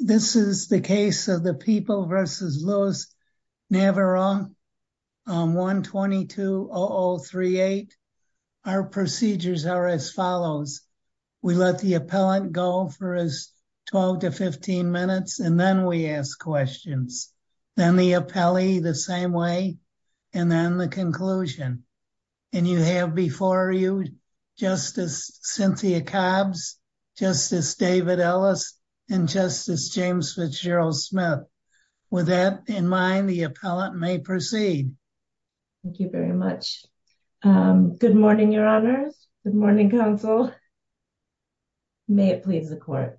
This is the case of the People v. Louis Navarone on 1220038. Our procedures are as follows. We let the appellant go for his 12 to 15 minutes, and then we ask questions. Then the appellee the same way, and then the conclusion. And you have before you Justice Cynthia Cobbs, Justice David Ellis, and Justice James Fitzgerald Smith. With that in mind, the appellant may proceed. Thank you very much. Good morning, your honors. Good morning, counsel. May it please the court.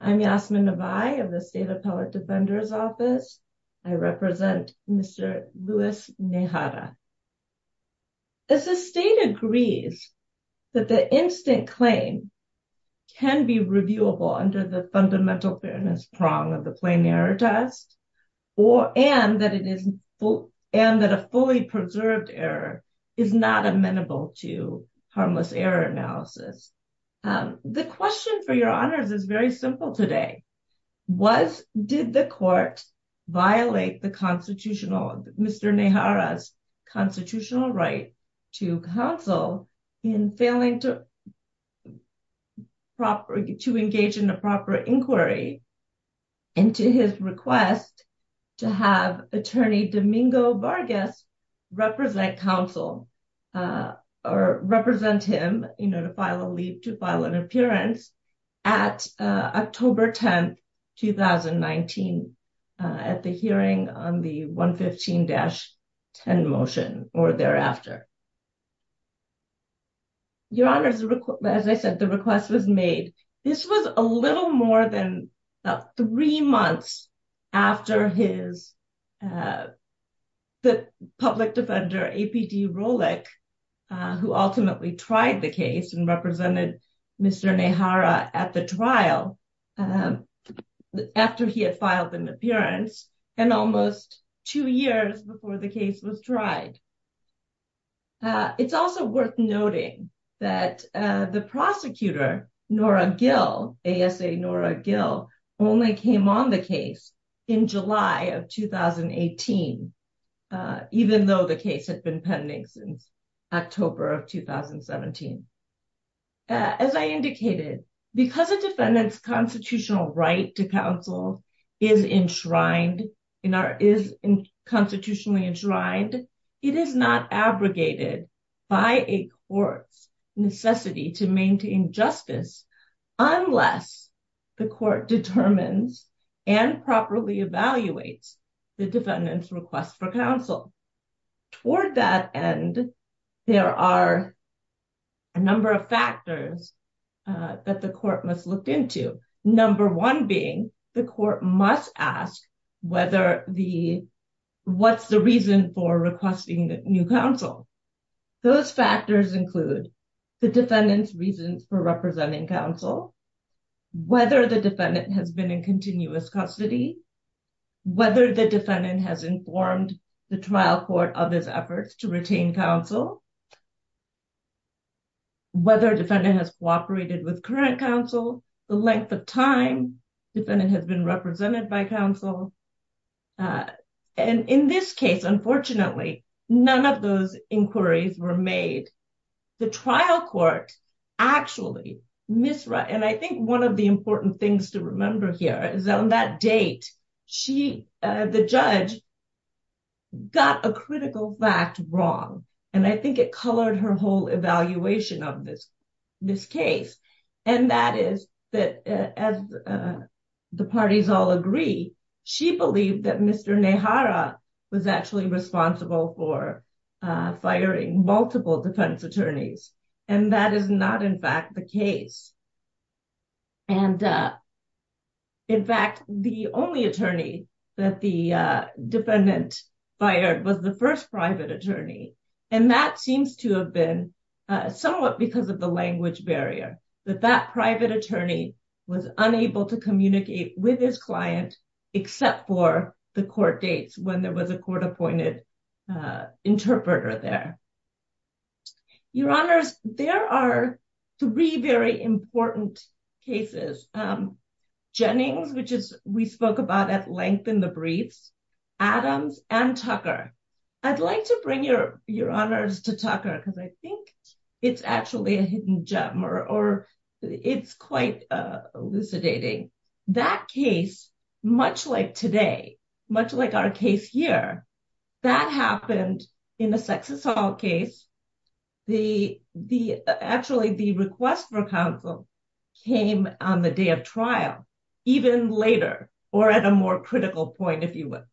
I'm Yasmin Navai of the State Appellate Defender's Office. I represent Mr. Louis Najera. As the state agrees that the instant claim can be reviewable under the fundamental fairness prong of the plain error test, and that a fully preserved error is not amenable to harmless error analysis. The question for your honors is very simple today. Was, did the court violate the constitutional, Mr. Najera's constitutional right to counsel in failing to engage in a proper inquiry into his request to have attorney Domingo Vargas represent counsel, or represent him, you know, to file a leave to file an appearance at October 10, 2019, at the hearing on the 115-10 motion or thereafter? Your honors, as I said, the request was made. This was a little more than three months after his, uh, the public defender, APD Rolick, uh, who ultimately tried the case and represented Mr. Najera at the trial, um, after he had filed an appearance and almost two years before the case was tried. Uh, it's also worth noting that, uh, the prosecutor, Nora Gill, A.S.A. Nora Gill, only came on the case in July of 2018, uh, even though the case had been pending since October of 2017. Uh, as I indicated, because a defendant's constitutional right to counsel is enshrined in our, is constitutionally enshrined, it is not abrogated by a court's justice unless the court determines and properly evaluates the defendant's request for counsel. Toward that end, there are a number of factors, uh, that the court must look into. Number one being the court must ask whether the, what's the reason for requesting new counsel. Those factors include the defendant's reasons for representing counsel, whether the defendant has been in continuous custody, whether the defendant has informed the trial court of his efforts to retain counsel, whether defendant has cooperated with current counsel, the length of time the defendant has been represented by counsel. Uh, and in this case, unfortunately, none of those inquiries were made. The trial court actually misread, and I think one of the important things to remember here is on that date, she, uh, the judge got a critical fact wrong. And I think it colored her whole evaluation of this, this case. And that is that, uh, as, uh, the parties all agree, she believed that Mr. Nehara was actually responsible for, uh, firing multiple defense attorneys. And that is not, in fact, the case. And, uh, in fact, the only attorney that the, uh, defendant fired was the first private attorney. And that seems to have been, uh, somewhat because of the language barrier, that that private attorney was unable to communicate with his client except for the court dates when there was a court-appointed, uh, interpreter there. Your Honors, there are three very important cases. Um, Jennings, which is, we spoke about at length in the briefs, Adams and Tucker. I'd like to bring your, your Honors to Tucker because I think it's actually a hidden gem or, or it's quite, uh, elucidating. That case, much like today, much like our case here, that happened in a sex assault case. The, the, actually the request for counsel came on the day of trial, even later, or at a more critical point, if you will.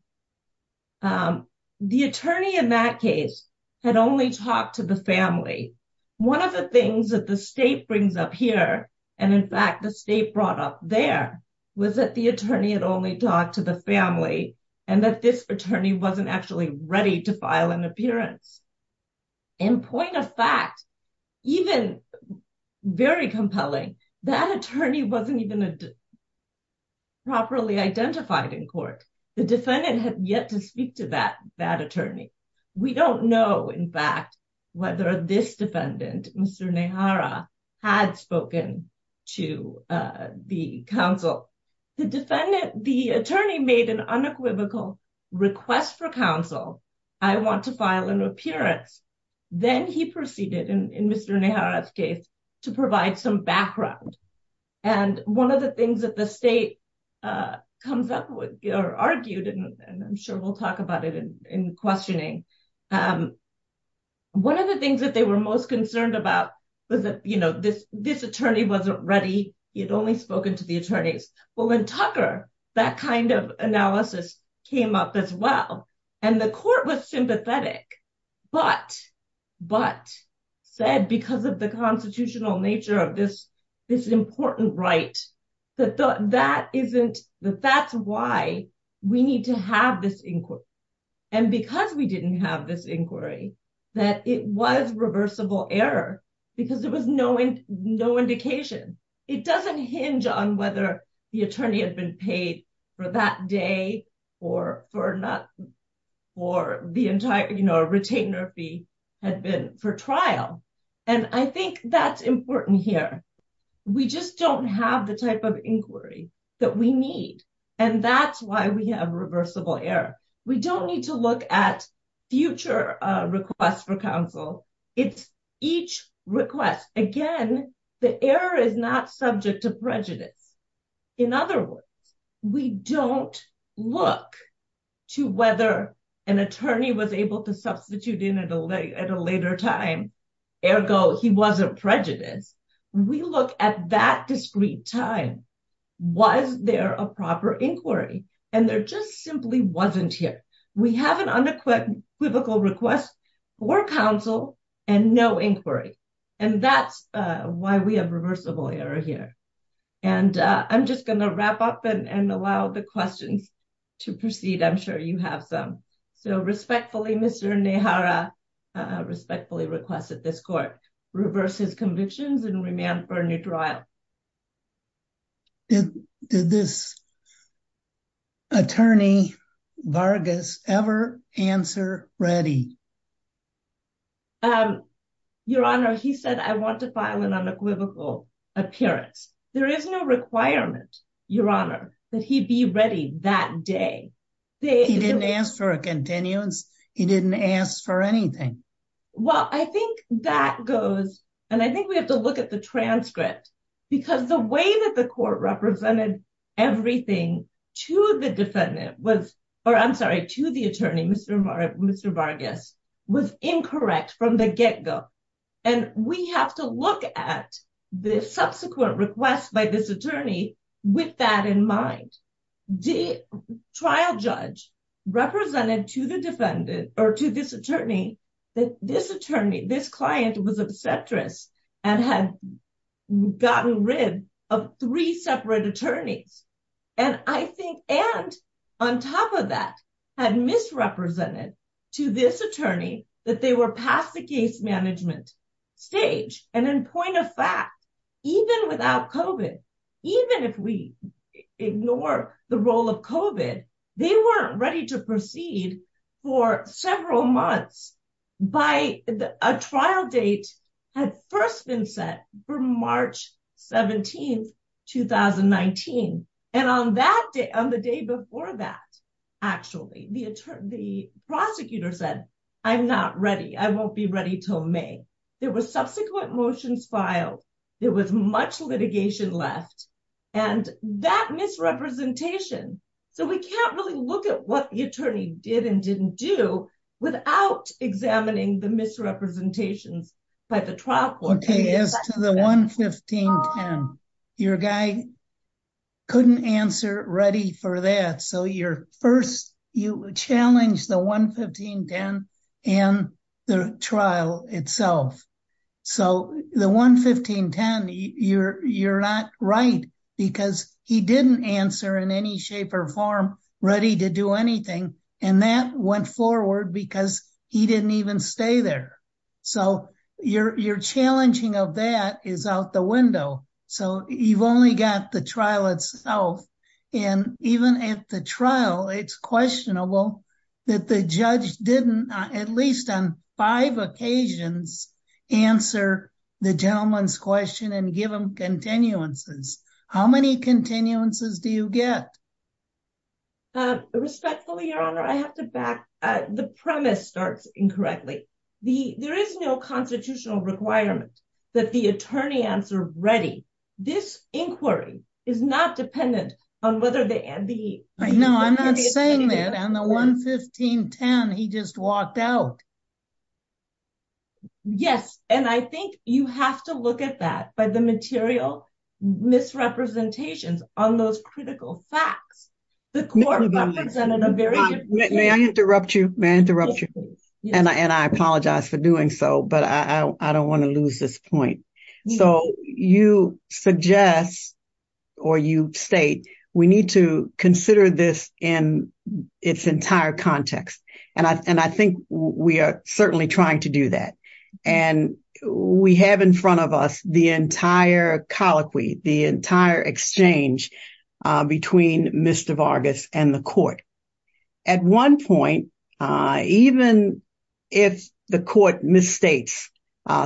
Um, the attorney in that case had only talked to the family. One of the things that the state brings up here, and in fact, the state brought up there, was that the attorney had only talked to the family and that this attorney wasn't actually ready to file an appearance. And point of fact, even very compelling, that attorney wasn't even properly identified in court. The defendant had yet to speak to that, that attorney. We don't know in fact, whether this defendant, Mr. Nehara, had spoken to, uh, the counsel. The defendant, the attorney made an unequivocal request for counsel. I want to file an appearance. Then he proceeded, in Mr. Nehara's case, to provide some background. And one of the things that the state, uh, comes up with, or argued, and I'm sure we'll talk about it in questioning. Um, one of the things that they were most concerned about was that, you know, this, this attorney wasn't ready. He had only spoken to the attorneys. Well, in Tucker, that kind of analysis came up as well. And the court was sympathetic, but, but said, because of the important right, that that isn't, that that's why we need to have this inquiry. And because we didn't have this inquiry, that it was reversible error, because there was no indication. It doesn't hinge on whether the attorney had been paid for that day, or for not, or the entire, you know, retainer fee had been for trial. And I think that's important here. We just don't have the type of inquiry that we need. And that's why we have reversible error. We don't need to look at future, uh, requests for counsel. It's each request. Again, the error is not subject to prejudice. In other words, we don't look to whether an attorney was able to substitute in at a later time. Ergo, he wasn't prejudiced. We look at that discrete time. Was there a proper inquiry? And there just simply wasn't here. We have an unequivocal request for counsel and no inquiry. And that's why we have reversible error here. And I'm just going to wrap up and allow the questions to proceed. I'm sure you have some. So respectfully, Mr. Nehara respectfully requested this court reverse his convictions and remand for a new trial. Did this attorney Vargas ever answer ready? Um, your honor, he said, I want to file an unequivocal appearance. There is no requirement, your honor, that he be ready that day. He didn't ask for a continuance. He didn't ask for anything. Well, I think that goes, and I think we have to look at the transcript because the way that the court represented everything to the defendant was, or I'm sorry, to the attorney, Mr. Mr. Vargas was incorrect from the get go. And we have to look at the subsequent requests by this attorney with that in mind, the trial judge represented to the defendant or to this attorney, that this attorney, this client was obstetrics and had gotten rid of three had misrepresented to this attorney that they were past the case management stage. And in point of fact, even without COVID, even if we ignore the role of COVID, they weren't ready to proceed for several months by a trial date had first been set for March 17th, 2019. And on that day, on the day before that, actually, the attorney, the prosecutor said, I'm not ready. I won't be ready till May. There were subsequent motions filed. There was much litigation left and that misrepresentation. So we can't really look at what the attorney did and didn't do without examining the misrepresentations by the trial court. As to the 11510, your guy couldn't answer ready for that. So your first, you challenged the 11510 and the trial itself. So the 11510, you're not right because he didn't answer in any shape or form ready to do anything. And that went forward because he didn't even stay there. So your challenging of that is out the window. So you've only got the trial itself. And even at the trial, it's questionable that the judge didn't, at least on five occasions, answer the gentleman's question and give him continuances. How many continuances do you get? Respectfully, your honor, I have to back up. The premise starts incorrectly. There is no constitutional requirement that the attorney answer ready. This inquiry is not dependent on whether they, and the... No, I'm not saying that. And the 11510, he just walked out. Yes. And I think you have to look at that by the material misrepresentations on those critical facts. The court represented a very... May I interrupt you? May I interrupt you? And I apologize for doing so, but I don't want to lose this point. So you suggest or you state, we need to consider this in its entire context. And I think we are certainly trying to do that. And we have in front of us the entire colloquy, the entire exchange between Mr. Vargas and the court. At one point, even if the court misstates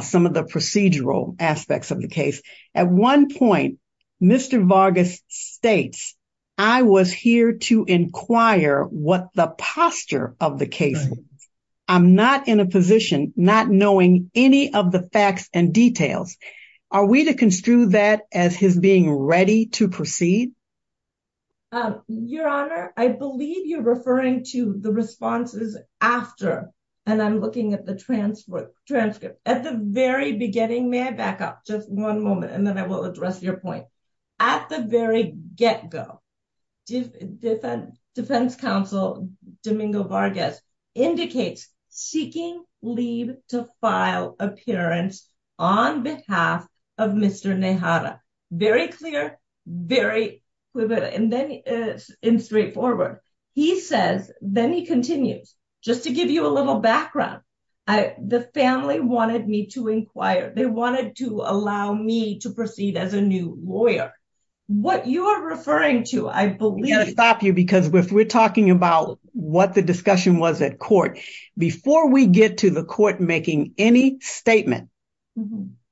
some of the procedural aspects of the case, at one point, Mr. Vargas states, I was here to inquire what the posture of the case was. I'm not in a position, not knowing any of the facts and details. Are we to construe that as his being ready to proceed? Your honor, I believe you're referring to the responses after, and I'm looking at the transcript. At the very beginning, may I back up just one moment, and then I will address your point. At the very get-go, defense counsel Domingo Vargas indicates seeking leave to file appearance on behalf of Mr. Nehata. Very clear, very... And then in straightforward, he says, then he continues. Just to give you a little background, the family wanted me to inquire. They wanted to allow me to proceed as a new lawyer. What you are referring to, I believe... We've got to stop you because we're talking about what the discussion was at court. Before we get to the court making any statement,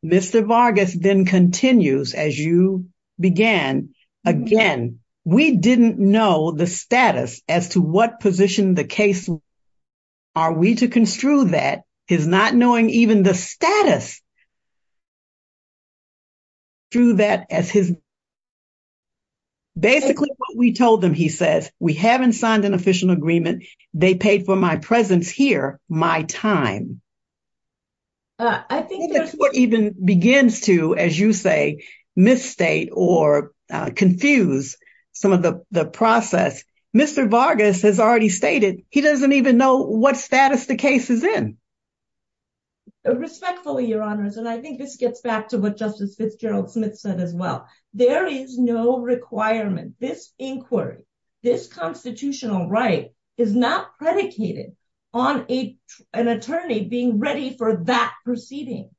Mr. Vargas then continues as you began. Again, we didn't know the status as to what position the case... Are we to construe that as not knowing even the status... Basically, what we told them, he says, we haven't signed an official agreement. They paid for my presence here, my time. I think the court even begins to, as you say, misstate or confuse some of the process. Mr. Vargas has already stated he doesn't even know what status the case is in. Respectfully, Your Honors, and I think this gets back to what Justice Fitzgerald Smith said as well. There is no requirement. This inquiry, this constitutional right is not predicated on an attorney being ready for that proceeding.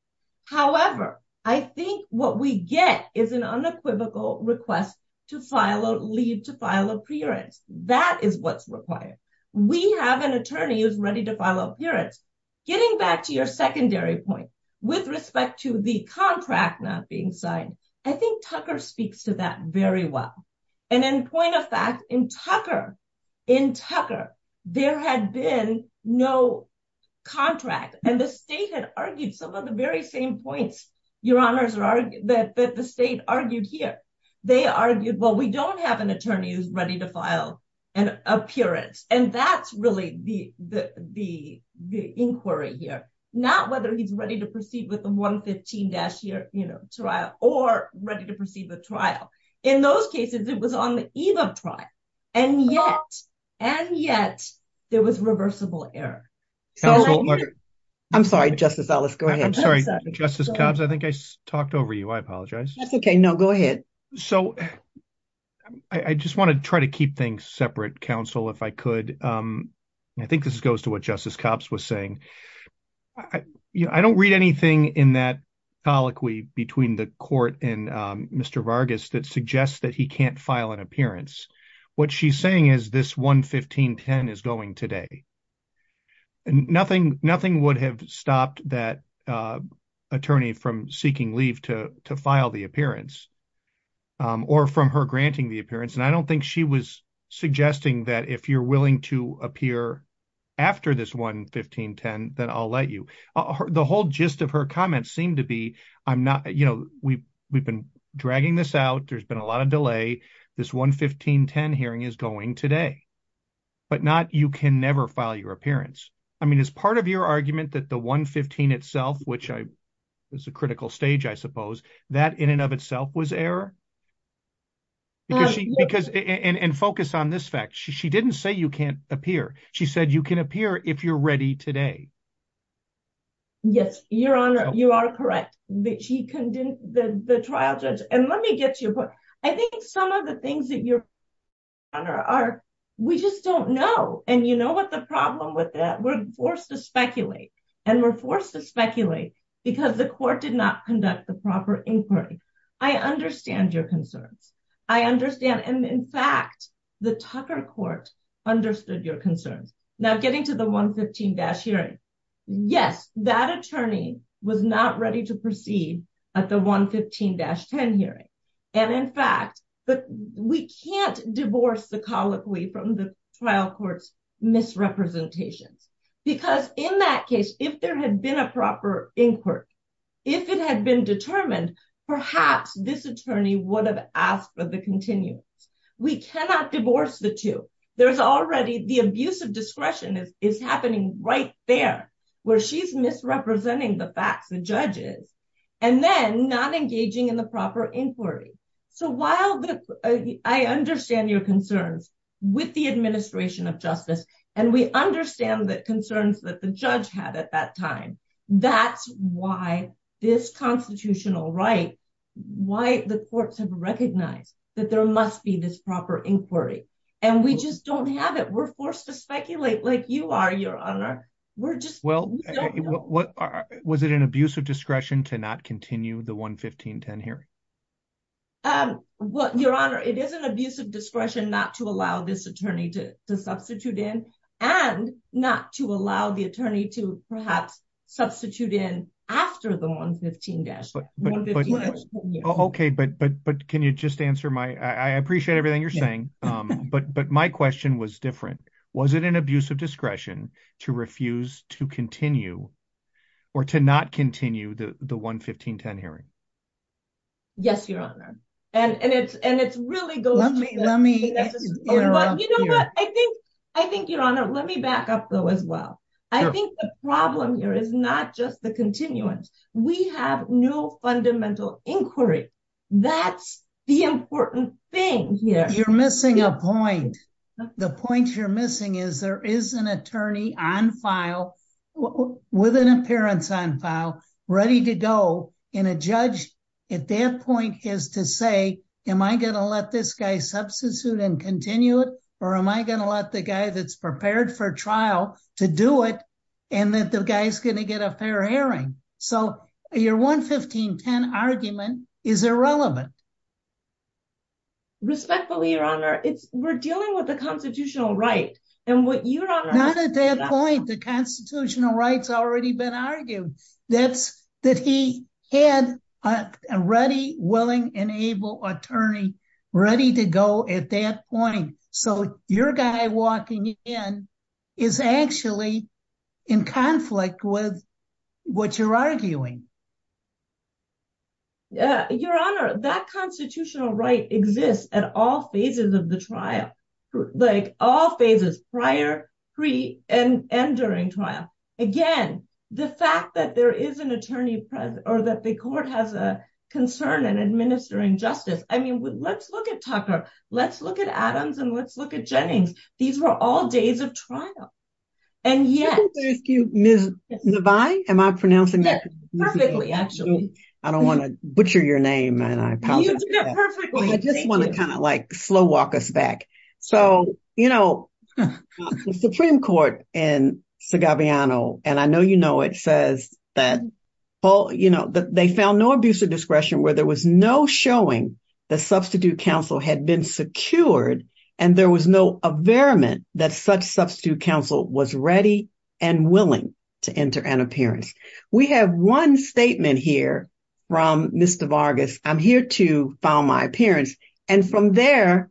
However, I think what we get is an unequivocal request to file a leave to file appearance. That is what's required. We have an attorney who's ready to file appearance. Getting back to your secondary point with respect to the contract not being signed, I think Tucker speaks to that very well. In point of fact, in Tucker, there had been no contract, and the state had argued some of the very same points, Your Honors, that the state argued here. They argued, well, we don't have an attorney who's ready to file an appearance. That's really the inquiry here, not whether he's ready to proceed with the 115-year trial or ready to proceed with trial. In those cases, it was on the eve of trial, and yet there was reversible error. I'm sorry, Justice Ellis. Go ahead. I'm sorry, Justice Cobbs. I think I talked over you. I apologize. That's okay. No, go ahead. I just want to try to keep things separate, counsel, if I could. I think this goes to what Justice Cobbs was saying. I don't read anything in that colloquy between the court and Mr. Vargas that suggests that he nothing would have stopped that attorney from seeking leave to file the appearance or from her granting the appearance. I don't think she was suggesting that if you're willing to appear after this 115-10, then I'll let you. The whole gist of her comments seemed to be, we've been dragging this out. There's been a lot of delay. This 115-10 hearing is going today, but you can never file your appearance. I mean, is part of your argument that the 115 itself, which is a critical stage, I suppose, that in and of itself was error? Focus on this fact. She didn't say you can't appear. She said you can appear if you're ready today. Yes, Your Honor, you are correct. She condemned the trial judge. Let me get to your things, Your Honor. We just don't know. You know what the problem with that? We're forced to speculate. We're forced to speculate because the court did not conduct the proper inquiry. I understand your concerns. I understand. In fact, the Tucker Court understood your concerns. Now, getting to the 115-10 hearing, yes, that attorney was not ready to proceed at the 115-10 hearing. In fact, but we can't divorce the colloquy from the trial court's misrepresentations because in that case, if there had been a proper inquiry, if it had been determined, perhaps this attorney would have asked for the continuance. We cannot divorce the two. There's already the abuse of discretion is happening right there where she's misrepresenting the facts, the judges, and then not engaging in the proper inquiry. I understand your concerns with the administration of justice, and we understand the concerns that the judge had at that time. That's why this constitutional right, why the courts have recognized that there must be this proper inquiry, and we just don't have it. We're forced to speculate like you are, Your Honor. Well, was it an abuse of discretion to not continue the 115-10 hearing? Well, Your Honor, it is an abuse of discretion not to allow this attorney to substitute in and not to allow the attorney to perhaps substitute in after the 115-10 hearing. Okay, but can you just answer my, I appreciate everything you're saying, but my question was was it an abuse of discretion to refuse to continue or to not continue the 115-10 hearing? Yes, Your Honor, and it really goes to that. Let me back up though as well. I think the problem here is not just the continuance. We have no fundamental inquiry. That's the important thing you're missing a point. The point you're missing is there is an attorney on file with an appearance on file ready to go, and a judge at that point is to say, am I going to let this guy substitute and continue it, or am I going to let the guy that's prepared for trial to do it, and that the guy's going to get a fair hearing? So your 115-10 argument is irrelevant. Respectfully, Your Honor, we're dealing with the constitutional right, and what Your Honor... Not at that point. The constitutional right's already been argued. That's that he had a ready, willing, and able attorney ready to go at that point, so your guy walking in is actually in conflict with what you're arguing. Your Honor, that constitutional right exists at all phases of the trial. All phases, prior, pre, and during trial. Again, the fact that there is an attorney present, or that the court has a concern in administering justice... I mean, let's look at Tucker. Let's look at Adams, and let's look at Jennings. These were all days of trial, and yet... Ms. Navi? Am I pronouncing that correctly? Perfectly, actually. I don't want to butcher your name, and I apologize. You did it perfectly. I just want to slow walk us back. The Supreme Court in Segalviano, and I know you know it, says that they found no abuse of discretion where there was no showing that substitute counsel had been secured, and there was no averiment that such substitute counsel was ready and willing to enter an appearance. We have one statement here from Mr. Vargas, I'm here to file my appearance, and from there,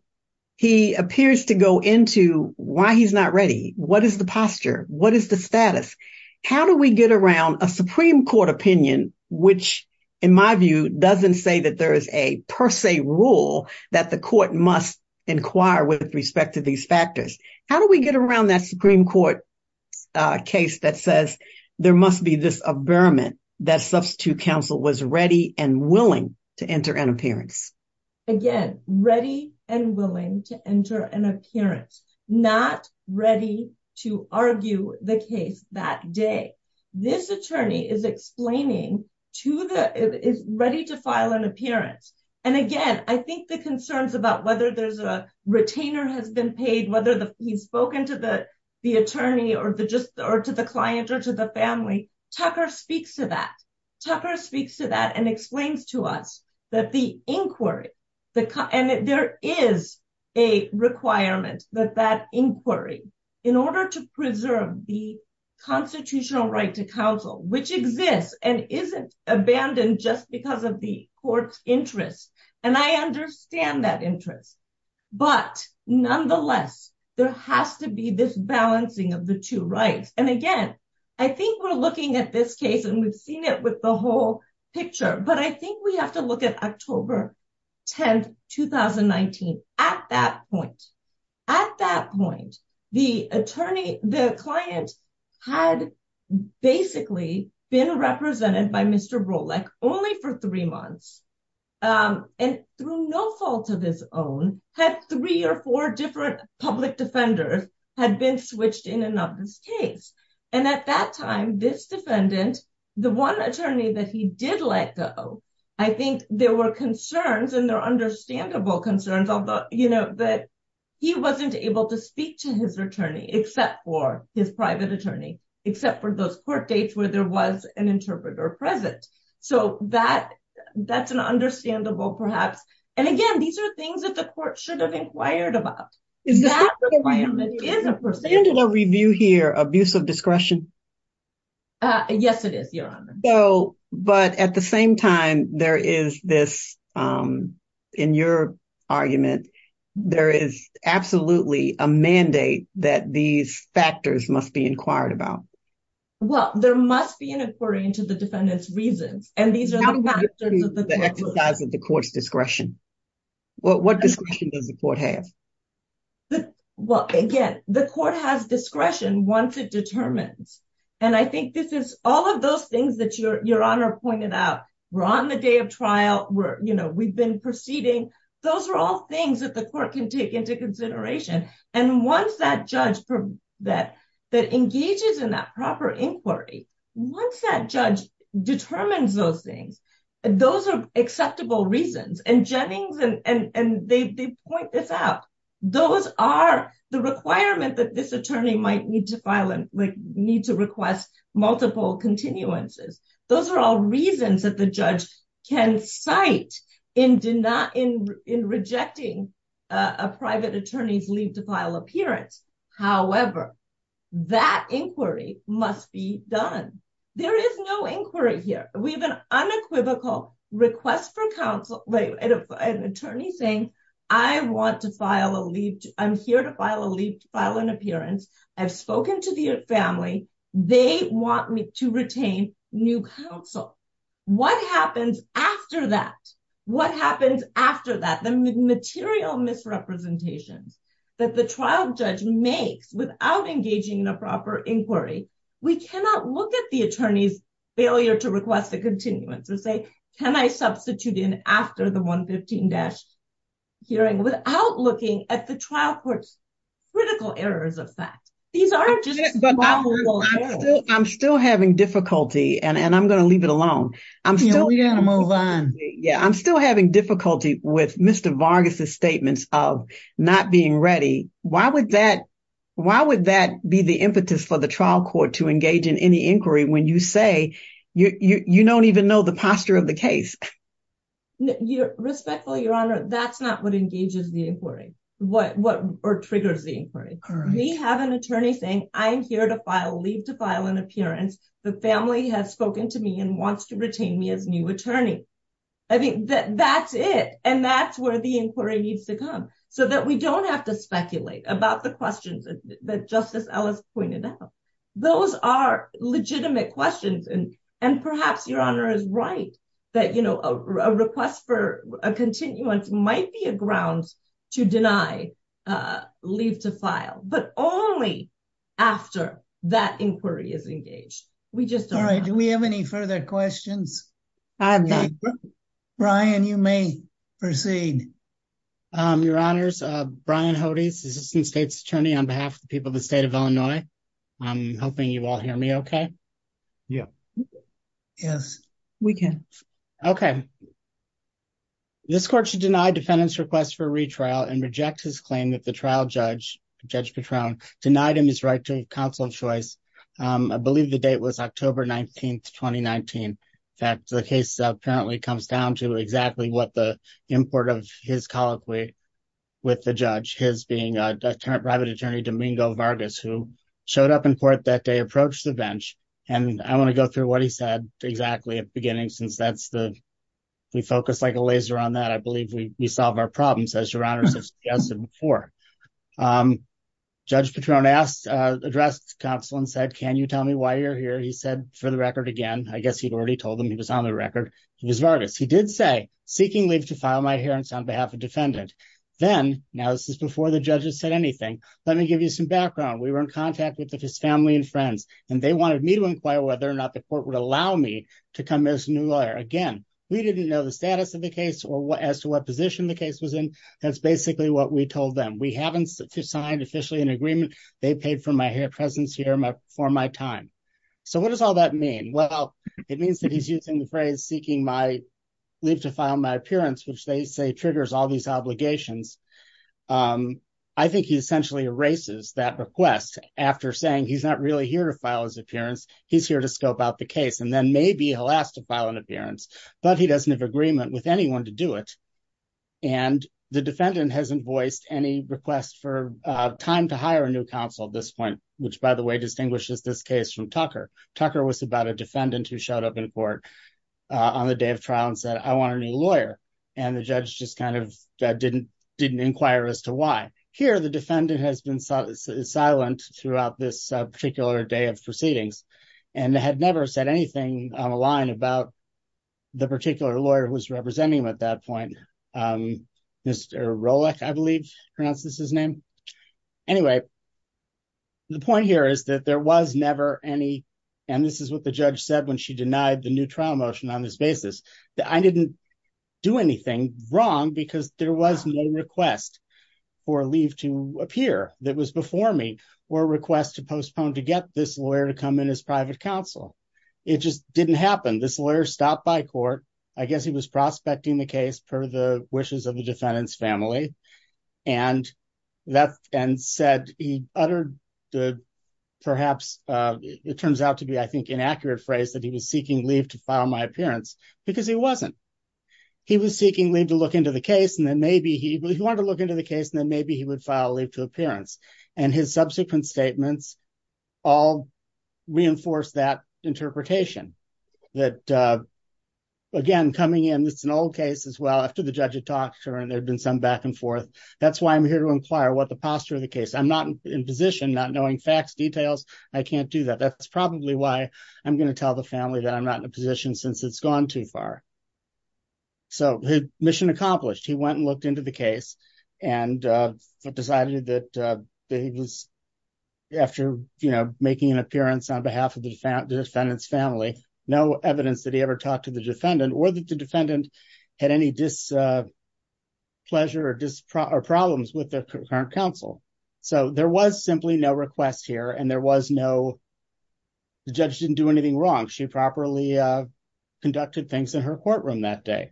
he appears to go into why he's not ready. What is the posture? What is the status? How do we get around a Supreme Court opinion, which, in my view, doesn't say that there is a per se rule that the court must inquire with respect to these factors? How do we get around that Supreme Court case that says there must be this averiment that substitute counsel was ready and willing to enter an appearance? Again, ready and willing to enter an appearance, not ready to argue the case that day. This attorney is explaining to the, is ready to file an appearance, and again, I think the concerns about whether there's a retainer has been paid, whether he's spoken to the attorney, or to the client, or to the family, Tucker speaks to that. Tucker speaks to that and explains to us that the inquiry, and there is a requirement that that inquiry, in order to preserve the constitutional right to counsel, which exists and isn't abandoned just because of the court's interest, and I understand that interest, but nonetheless, there has to be this balancing of the two rights. And again, I think we're looking at this case, and we've seen it with the whole picture, but I think we have to look at October 10, 2019. At that point, at that point, the attorney, the client had basically been represented by Mr. Rolleck only for three months, and through no fault of his own, had three or four different public defenders had been switched in and of this case. And at that time, this defendant, the one attorney that he did let go, I think there were concerns, and they're understandable concerns, although, you know, that he wasn't able to speak to his attorney, except for his private attorney, except for those court dates where there was an interpreter present. So that's an understandable, perhaps, and again, these are things that the court should have inquired about. Is that a review here, abuse of discretion? Yes, it is, Your Honor. So, but at the same time, there is this, in your argument, there is absolutely a mandate that these factors must be inquired about. Well, there must be an inquiry into the defendant's reasons, and these are the exercise of the court's discretion. What discretion does the court have? Well, again, the court has discretion once it determines, and I think this is all of those things that Your Honor pointed out. We're on the day of trial, we're, you know, we've been proceeding. Those are all things that the court can take into consideration, and once that judge that engages in that proper inquiry, once that judge determines those things, those are acceptable reasons, and Jennings, and they point this out. Those are the requirement that this attorney might need to file, like, need to request multiple continuances. Those are all reasons that the judge can cite in rejecting a private attorney's leave to file appearance, however, that inquiry must be done. There is no inquiry here. We have an unequivocal request for counsel, an attorney saying, I want to file a leave. I'm here to file a leave to file an appearance. I've spoken to the family. They want me to retain new counsel. What happens after that? What happens after that? The material misrepresentations that the trial judge makes without engaging in a proper inquiry, we cannot look at the attorney's failure to request a continuance or say, can I substitute in after the 115- hearing without looking at the trial court's critical errors of fact. These aren't just small little errors. I'm still having difficulty, and I'm going to leave it alone. You know, we got to move on. Yeah, I'm still having difficulty with Mr. Vargas' statements of not being ready. Why would that be the impetus for the trial court to engage in any inquiry when you say you don't even know the posture of the case? Respectfully, Your Honor, that's not what engages the inquiry or triggers the inquiry. We have an attorney saying, I'm here to file a leave to file an appearance. The family has spoken to me and wants to retain me as new attorney. I think that's it. And that's where the inquiry needs to come so that we don't have to speculate about the questions that Justice Ellis pointed out. Those are legitimate questions. And perhaps Your Honor is right that, you know, a request for a continuance might be a ground to deny leave to file, but only after that inquiry is engaged. All right. Do we have any further questions? Brian, you may proceed. Your Honors, Brian Hodes, Assistant State's Attorney on behalf of the people of the state of Illinois. I'm hoping you all hear me okay. Yeah. Yes, we can. Okay. This court should deny defendant's request for retrial and reject his claim that the trial Judge Petrone denied him his right to counsel of choice. I believe the date was October 19th, 2019. In fact, the case apparently comes down to exactly what the import of his colloquy with the judge, his being a private attorney, Domingo Vargas, who showed up in court that day, approached the bench. And I want to go through what he said exactly at the beginning, since we focus like a laser on that. I believe we solve our problems as Your Honors have suggested before. Judge Petrone addressed counsel and said, can you tell me why you're here? He said, for the record, again, I guess he'd already told them he was on the record, he was Vargas. He did say, seeking leave to file my adherence on behalf of defendant. Then, now this is before the judges said anything, let me give you some background. We were in contact with his family and friends, and they wanted me to inquire whether or not the court would allow me to come as a new lawyer. Again, we didn't know the status of the case or as to position the case was in. That's basically what we told them. We haven't signed officially an agreement. They paid for my hair presence here for my time. So what does all that mean? Well, it means that he's using the phrase seeking leave to file my appearance, which they say triggers all these obligations. I think he essentially erases that request after saying he's not really here to file his appearance. He's here to scope out the case and then maybe he'll ask to file an appearance, but he doesn't have agreement with anyone to do it. The defendant hasn't voiced any request for time to hire a new counsel at this point, which, by the way, distinguishes this case from Tucker. Tucker was about a defendant who showed up in court on the day of trial and said, I want a new lawyer. The judge just kind of didn't inquire as to why. Here, the defendant has been silent throughout this particular day of about the particular lawyer who was representing him at that point. Mr. Rolick, I believe, pronounces his name. Anyway, the point here is that there was never any, and this is what the judge said when she denied the new trial motion on this basis, that I didn't do anything wrong because there was no request for leave to appear that was before me or request to postpone to get this lawyer to come in as private counsel. It just didn't happen. This lawyer stopped by court. I guess he was prospecting the case per the wishes of the defendant's family and said he uttered perhaps, it turns out to be, I think, inaccurate phrase that he was seeking leave to file my appearance because he wasn't. He was seeking leave to look into the case and then maybe he wanted to look into the case and then maybe he would file leave to appearance. His subsequent statements all reinforce that interpretation that, again, coming in, it's an old case as well. After the judge had talked to her and there'd been some back and forth. That's why I'm here to inquire what the posture of the case. I'm not in position, not knowing facts, details. I can't do that. That's probably why I'm going to tell the family that I'm not in a position since it's gone too far. So, mission accomplished. He went and looked into the case and decided that he was after making an appearance on behalf of the defendant's family. No evidence that he ever talked to the defendant or that the defendant had any displeasure or problems with the current counsel. So, there was simply no request here and the judge didn't do anything wrong. She properly conducted things in her courtroom that day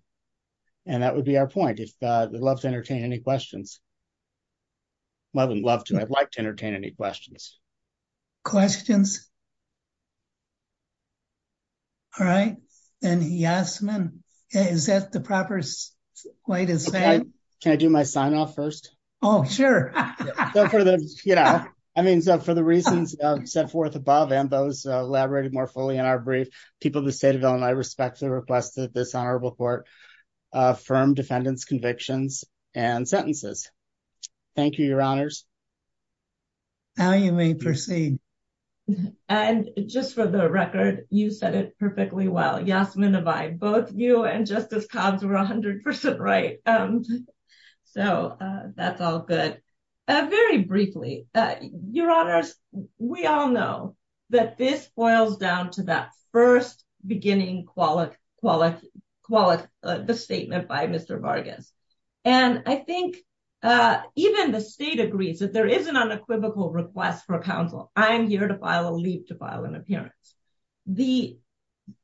and that would be our point. I'd love to entertain any questions. Questions? All right. Yasmin, is that the proper way to say it? Can I do my sign off first? Oh, sure. For the reasons set forth above and those elaborated more fully in our brief, people of the state of Illinois respectfully request that this honorable court affirm defendant's convictions and sentences. Thank you, your honors. Now you may proceed. And just for the record, you said it perfectly well. Yasmin Abay, both you and Justice Cobbs were 100% right. So, that's all good. Very briefly, your honors, we all know that this boils down to that first beginning the statement by Mr. Vargas. And I think even the state agrees that there is an unequivocal request for counsel. I'm here to file a leave to file an appearance. The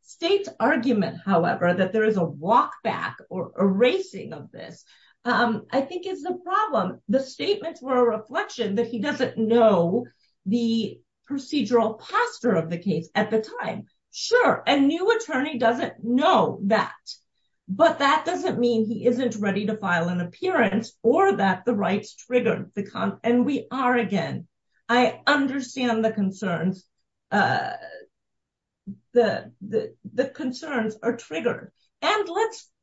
state's argument, however, that there is a walk back or erasing of this, I think is the problem. The statements were a reflection that he doesn't know the procedural posture of the case at the time. Sure, a new attorney doesn't know that. But that doesn't mean he isn't ready to file an appearance or that the rights triggered. And we are again. I understand the concerns are triggered. And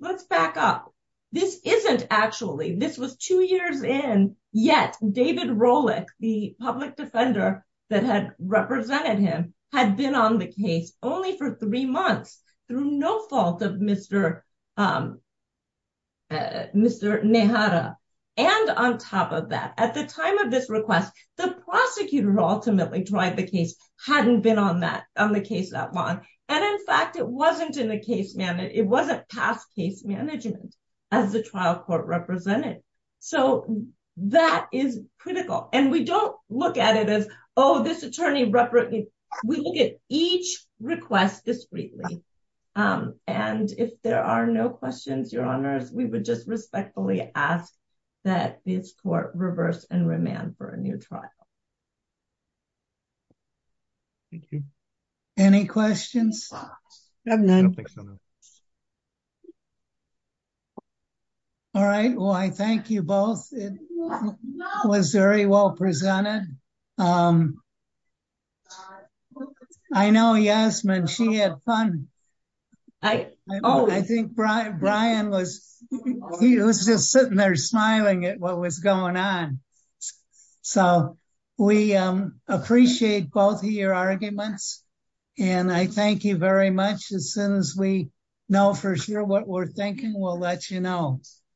let's back up. This isn't actually, this was two years in, yet David Rolick, the public defender that had represented him had been on the case only for three months, through no fault of Mr. Nehara. And on top of that, at the time of this request, the prosecutor ultimately tried the case hadn't been on that on the case that long. And in fact, it wasn't in the case management, it wasn't past case management, as the trial court represented. So that is critical. And we don't look at it as, oh, this attorney, we look at each request discreetly. And if there are no questions, Your Honors, we would just respectfully ask that this court reverse and remand for a new attorney. All right. Well, I thank you both. It was very well presented. I know Yasmin, she had fun. I think Brian was, he was just sitting there smiling at what was going on. So we appreciate both of your arguments. And I thank you very much. As soon as we know for sure what we're thinking, we'll let you know.